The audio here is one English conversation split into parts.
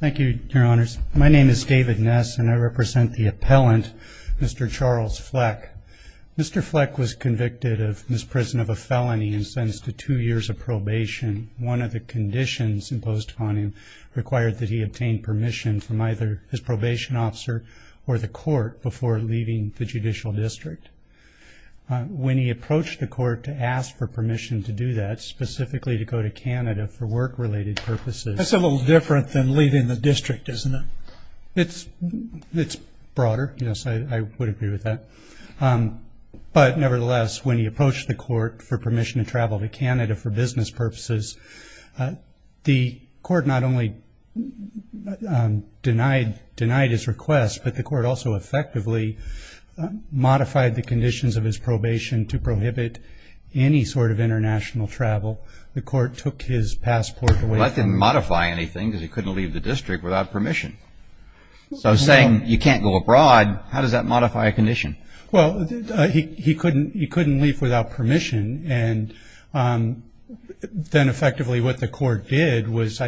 Thank you, your honors. My name is David Ness and I represent the appellant, Mr. Charles Fleck. Mr. Fleck was convicted of misprison of a felony and sentenced to two years of probation. One of the conditions imposed upon him required that he obtain permission from either his probation officer or the court before leaving the judicial district. When he approached the court to ask for permission to do that, specifically to go to Canada for work-related purposes That's a little different than leaving the district, isn't it? It's broader, yes, I would agree with that. But nevertheless, when he approached the court for permission to travel to Canada for business purposes, the court not only denied his request, but the court also effectively modified the conditions of his probation to prohibit any sort of international travel. The court took his passport away from him. Well, that didn't modify anything because he couldn't leave the district without permission. So saying you can't go abroad, how does that modify a condition? Well, he couldn't leave without permission, and then effectively what the court did was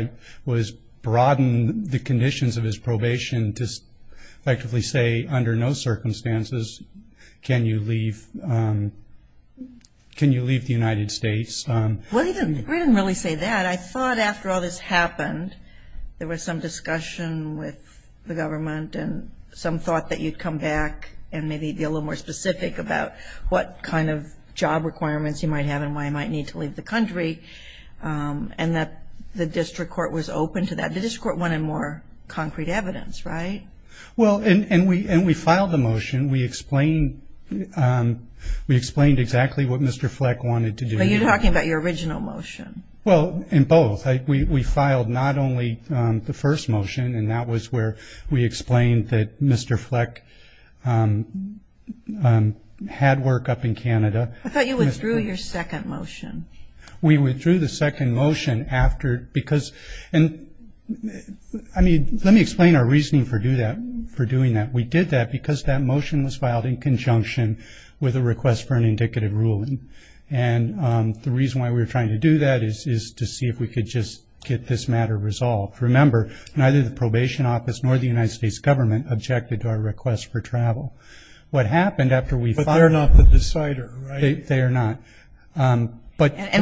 broaden the conditions of his probation to effectively say under no circumstances can you leave the United States. Well, he didn't really say that. I thought after all this happened there was some discussion with the government and some thought that you'd come back and maybe be a little more specific about what kind of job requirements you might have and why you might need to leave the country, and that the district court was open to that. The district court wanted more concrete evidence, right? Well, and we filed the motion. We explained exactly what Mr. Fleck wanted to do. So you're talking about your original motion. Well, in both. We filed not only the first motion, and that was where we explained that Mr. Fleck had work up in Canada. I thought you withdrew your second motion. We withdrew the second motion after because, I mean, let me explain our reasoning for doing that. We did that because that motion was filed in conjunction with a request for an indicative ruling, and the reason why we were trying to do that is to see if we could just get this matter resolved. Remember, neither the probation office nor the United States government objected to our request for travel. What happened after we filed it. But they're not the decider, right? They are not. And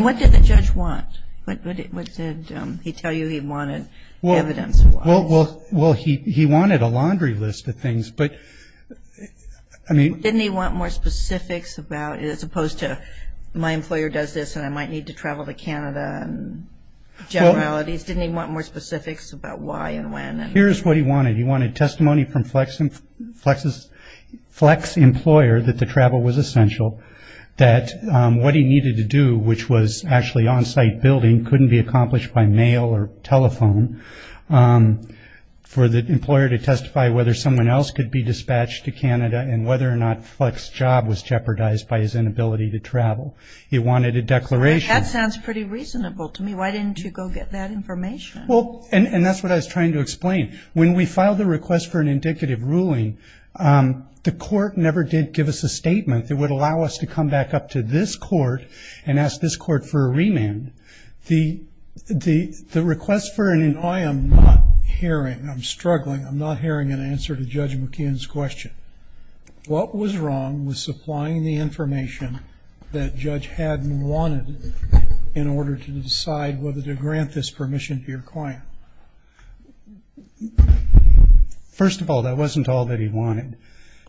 what did the judge want? What did he tell you he wanted evidence-wise? Well, he wanted a laundry list of things, but, I mean. Didn't he want more specifics about it as opposed to my employer does this and I might need to travel to Canada and generalities? Didn't he want more specifics about why and when? Here's what he wanted. He wanted testimony from Fleck's employer that the travel was essential, that what he needed to do, which was actually on-site building, couldn't be accomplished by mail or telephone, for the employer to testify whether someone else could be dispatched to Canada and whether or not Fleck's job was jeopardized by his inability to travel. He wanted a declaration. That sounds pretty reasonable to me. Why didn't you go get that information? Well, and that's what I was trying to explain. When we filed the request for an indicative ruling, the court never did give us a statement that would allow us to come back up to this court and ask this court for a remand. The request for an indicative. I am not hearing. I'm struggling. I'm not hearing an answer to Judge McKeon's question. What was wrong with supplying the information that Judge Haddon wanted in order to decide whether to grant this permission to your client? First of all, that wasn't all that he wanted.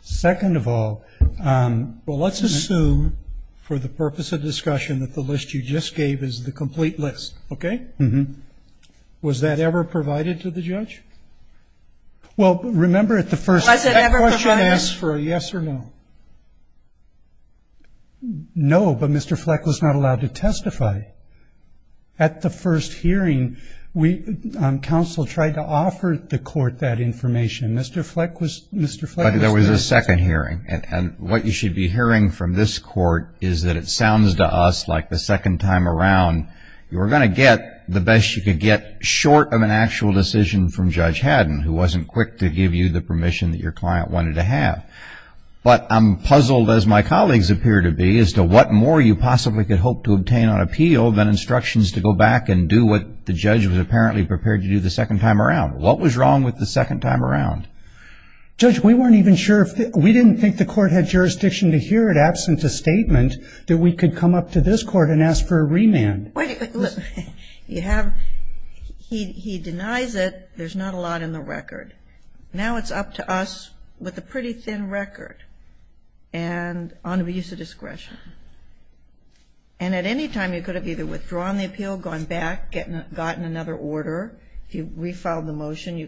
Second of all, well, let's assume, for the purpose of discussion, that the list you just gave is the complete list, okay? Was that ever provided to the judge? Well, remember at the first question asked for a yes or no. No, but Mr. Fleck was not allowed to testify. At the first hearing, counsel tried to offer the court that information. Mr. Fleck was not. But there was a second hearing, and what you should be hearing from this court is that it sounds to us like the second time around you were going to get the best you could get short of an actual decision from Judge Haddon, who wasn't quick to give you the permission that your client wanted to have. But I'm puzzled, as my colleagues appear to be, as to what more you possibly could hope to obtain on appeal than instructions to go back and do what the judge was apparently prepared to do the second time around. What was wrong with the second time around? Judge, we weren't even sure. We didn't think the court had jurisdiction to hear it, that we could come up to this court and ask for a remand. You have he denies it. There's not a lot in the record. Now it's up to us with a pretty thin record and on abuse of discretion. And at any time you could have either withdrawn the appeal, gone back, gotten another order. You refiled the motion.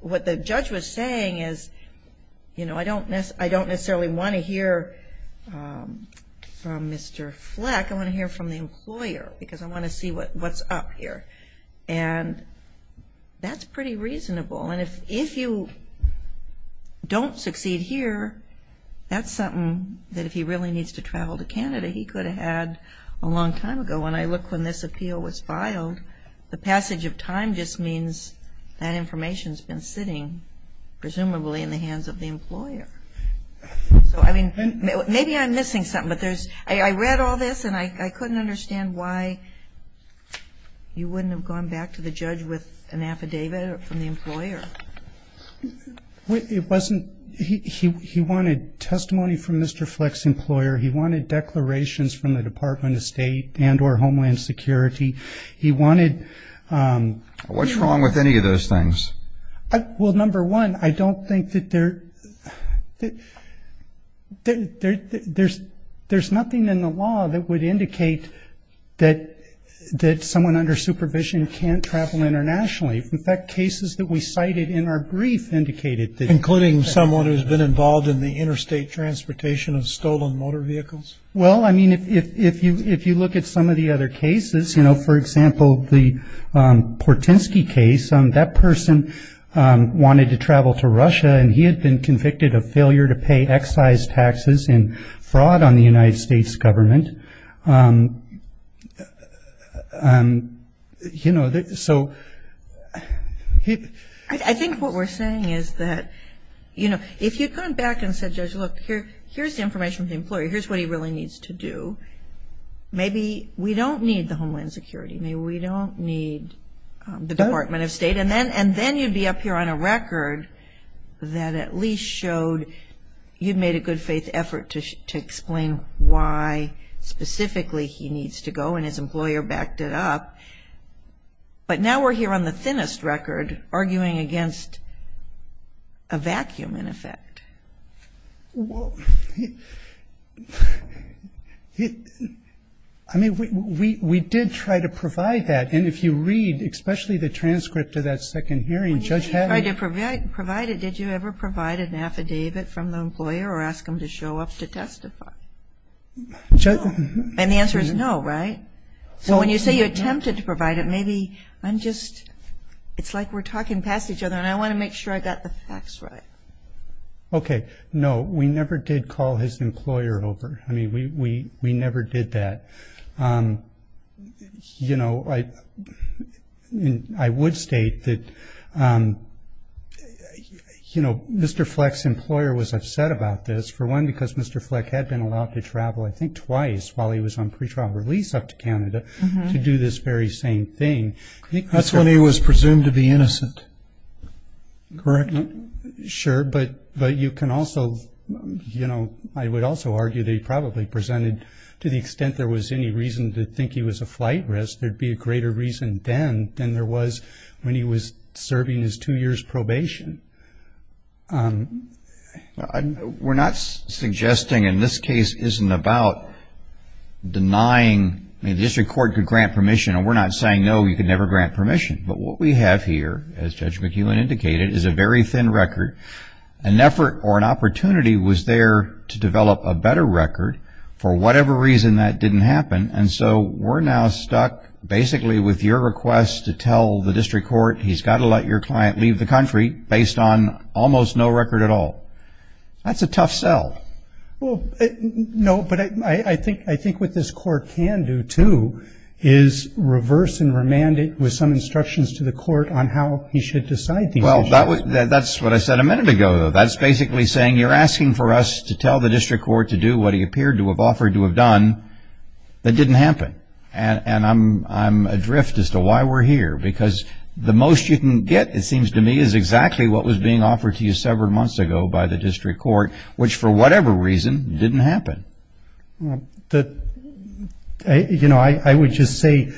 What the judge was saying is, you know, I don't necessarily want to hear from Mr. Fleck. I want to hear from the employer because I want to see what's up here. And that's pretty reasonable. And if you don't succeed here, that's something that if he really needs to travel to Canada, he could have had a long time ago. So when I look when this appeal was filed, the passage of time just means that information has been sitting presumably in the hands of the employer. So, I mean, maybe I'm missing something, but there's ‑‑ I read all this and I couldn't understand why you wouldn't have gone back to the judge with an affidavit from the employer. It wasn't ‑‑ he wanted testimony from Mr. Fleck's employer. He wanted declarations from the Department of State and or Homeland Security. He wanted ‑‑ What's wrong with any of those things? Well, number one, I don't think that there ‑‑ there's nothing in the law that would indicate that someone under supervision can't travel internationally. In fact, cases that we cited in our brief indicated that. Including someone who's been involved in the interstate transportation of stolen motor vehicles? Well, I mean, if you look at some of the other cases, you know, for example, the Portensky case, that person wanted to travel to Russia and he had been convicted of failure to pay excise taxes in fraud on the United States government. You know, so ‑‑ I think what we're saying is that, you know, if you'd gone back and said, Judge, look, here's the information from the employer. Here's what he really needs to do. Maybe we don't need the Homeland Security. Maybe we don't need the Department of State. And then you'd be up here on a record that at least showed you'd made a good faith effort to explain why specifically he needs to go and his employer backed it up. But now we're here on the thinnest record arguing against a vacuum, in effect. Well, I mean, we did try to provide that. And if you read especially the transcript of that second hearing, Judge Hadley ‑‑ When you said you tried to provide it, did you ever provide an affidavit from the employer or ask him to show up to testify? No. And the answer is no, right? So when you say you attempted to provide it, maybe I'm just ‑‑ it's like we're talking past each other, and I want to make sure I got the facts right. Okay. No, we never did call his employer over. I mean, we never did that. You know, I would state that, you know, Mr. Fleck's employer was upset about this, for one, because Mr. Fleck had been allowed to travel I think twice while he was on pretrial release up to Canada to do this very same thing. That's when he was presumed to be innocent, correct? Sure. But you can also, you know, I would also argue that he probably presented, to the extent there was any reason to think he was a flight risk, there would be a greater reason then than there was when he was serving his two years probation. We're not suggesting, and this case isn't about denying, I mean, the district court could grant permission, and we're not saying, no, you can never grant permission. But what we have here, as Judge McEwen indicated, is a very thin record. An effort or an opportunity was there to develop a better record for whatever reason that didn't happen, and so we're now stuck basically with your request to tell the district court, he's got to let your client leave the country based on almost no record at all. That's a tough sell. No, but I think what this court can do, too, is reverse and remand it with some instructions to the court on how he should decide these issues. Well, that's what I said a minute ago, though. That's basically saying you're asking for us to tell the district court to do what he appeared to have offered to have done that didn't happen. And I'm adrift as to why we're here, because the most you can get, it seems to me, is exactly what was being offered to you several months ago by the district court, which for whatever reason didn't happen. You know, I would just say,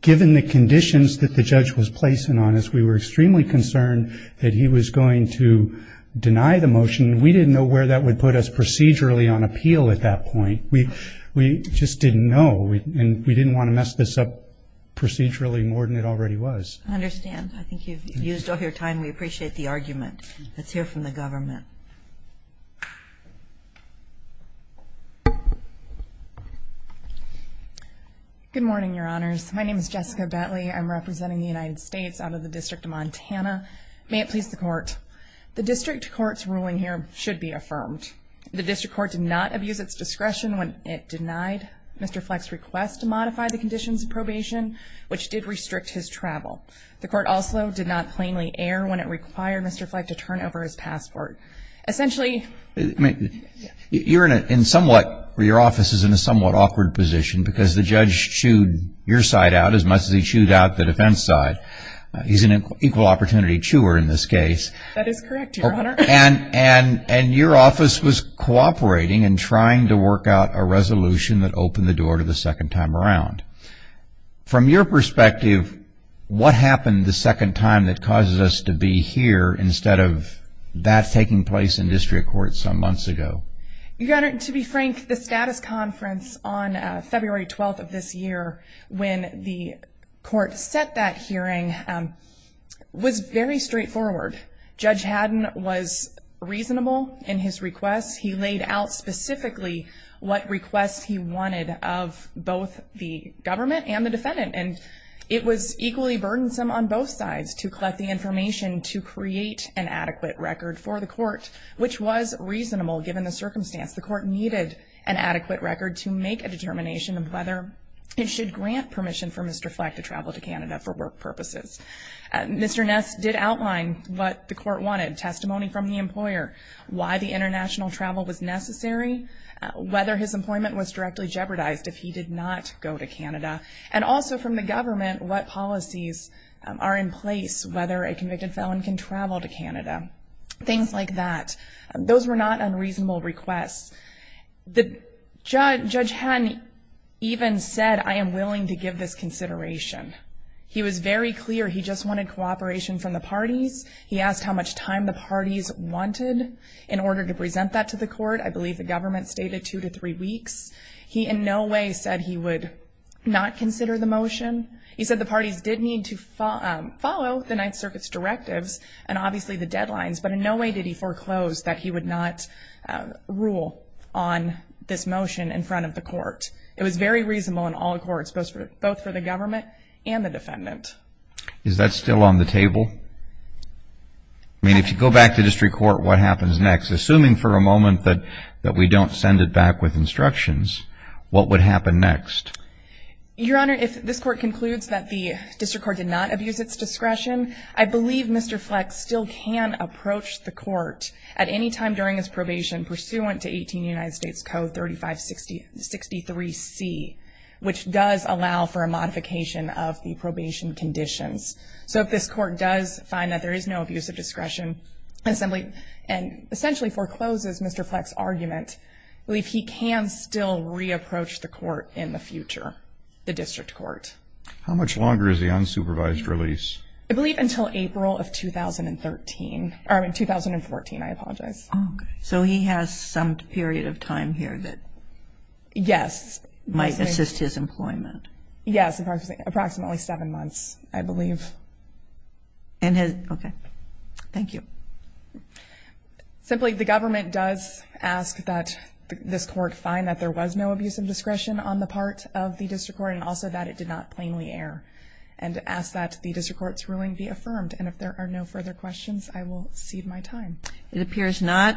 given the conditions that the judge was placing on us, we were extremely concerned that he was going to deny the motion. We didn't know where that would put us procedurally on appeal at that point. We just didn't know, and we didn't want to mess this up procedurally more than it already was. I understand. I think you've used all your time. We appreciate the argument. Let's hear from the government. Good morning, Your Honors. My name is Jessica Bentley. I'm representing the United States out of the District of Montana. May it please the Court. The district court's ruling here should be affirmed. The district court did not abuse its discretion when it denied Mr. Fleck's request to modify the conditions of probation, which did restrict his travel. The court also did not plainly err when it required Mr. Fleck to turn over his passport. Essentially you're in somewhat, your office is in a somewhat awkward position, because the judge chewed your side out as much as he chewed out the defense side. He's an equal opportunity chewer in this case. That is correct, Your Honor. And your office was cooperating and trying to work out a resolution that opened the door to the second time around. From your perspective, what happened the second time that causes us to be here instead of that taking place in district court some months ago? Your Honor, to be frank, the status conference on February 12th of this year, when the court set that hearing, was very straightforward. Judge Haddon was reasonable in his requests. He laid out specifically what requests he wanted of both the government and the defendant. And it was equally burdensome on both sides to collect the information to create an adequate record for the court, which was reasonable given the circumstance. The court needed an adequate record to make a determination of whether it should grant permission for Mr. Fleck to travel to Canada for work purposes. Mr. Ness did outline what the court wanted, testimony from the employer, why the international travel was necessary, whether his employment was directly jeopardized if he did not go to Canada, and also from the government what policies are in place, whether a convicted felon can travel to Canada, things like that. Those were not unreasonable requests. Judge Haddon even said, I am willing to give this consideration. He was very clear he just wanted cooperation from the parties. He asked how much time the parties wanted in order to present that to the court. I believe the government stated two to three weeks. He in no way said he would not consider the motion. He said the parties did need to follow the Ninth Circuit's directives and obviously the deadlines, but in no way did he foreclose that he would not rule on this motion in front of the court. It was very reasonable in all courts, both for the government and the defendant. Is that still on the table? I mean, if you go back to district court, what happens next? Assuming for a moment that we don't send it back with instructions, what would happen next? Your Honor, if this court concludes that the district court did not abuse its discretion, I believe Mr. Fleck still can approach the court at any time during his probation pursuant to 18 United States Code 3563C, which does allow for a modification of the probation conditions. So if this court does find that there is no abuse of discretion, and essentially forecloses Mr. Fleck's argument, I believe he can still re-approach the court in the future, the district court. How much longer is the unsupervised release? I believe until April of 2013 or 2014. I apologize. Oh, okay. So he has some period of time here that might assist his employment? Yes, approximately seven months, I believe. Okay. Thank you. Simply, the government does ask that this court find that there was no abuse of discretion on the part of the district court, and also that it did not plainly err, and ask that the district court's ruling be affirmed. And if there are no further questions, I will cede my time. It appears not.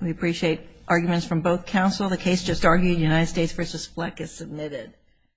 We appreciate arguments from both counsel. The case just argued, United States v. Fleck, is submitted.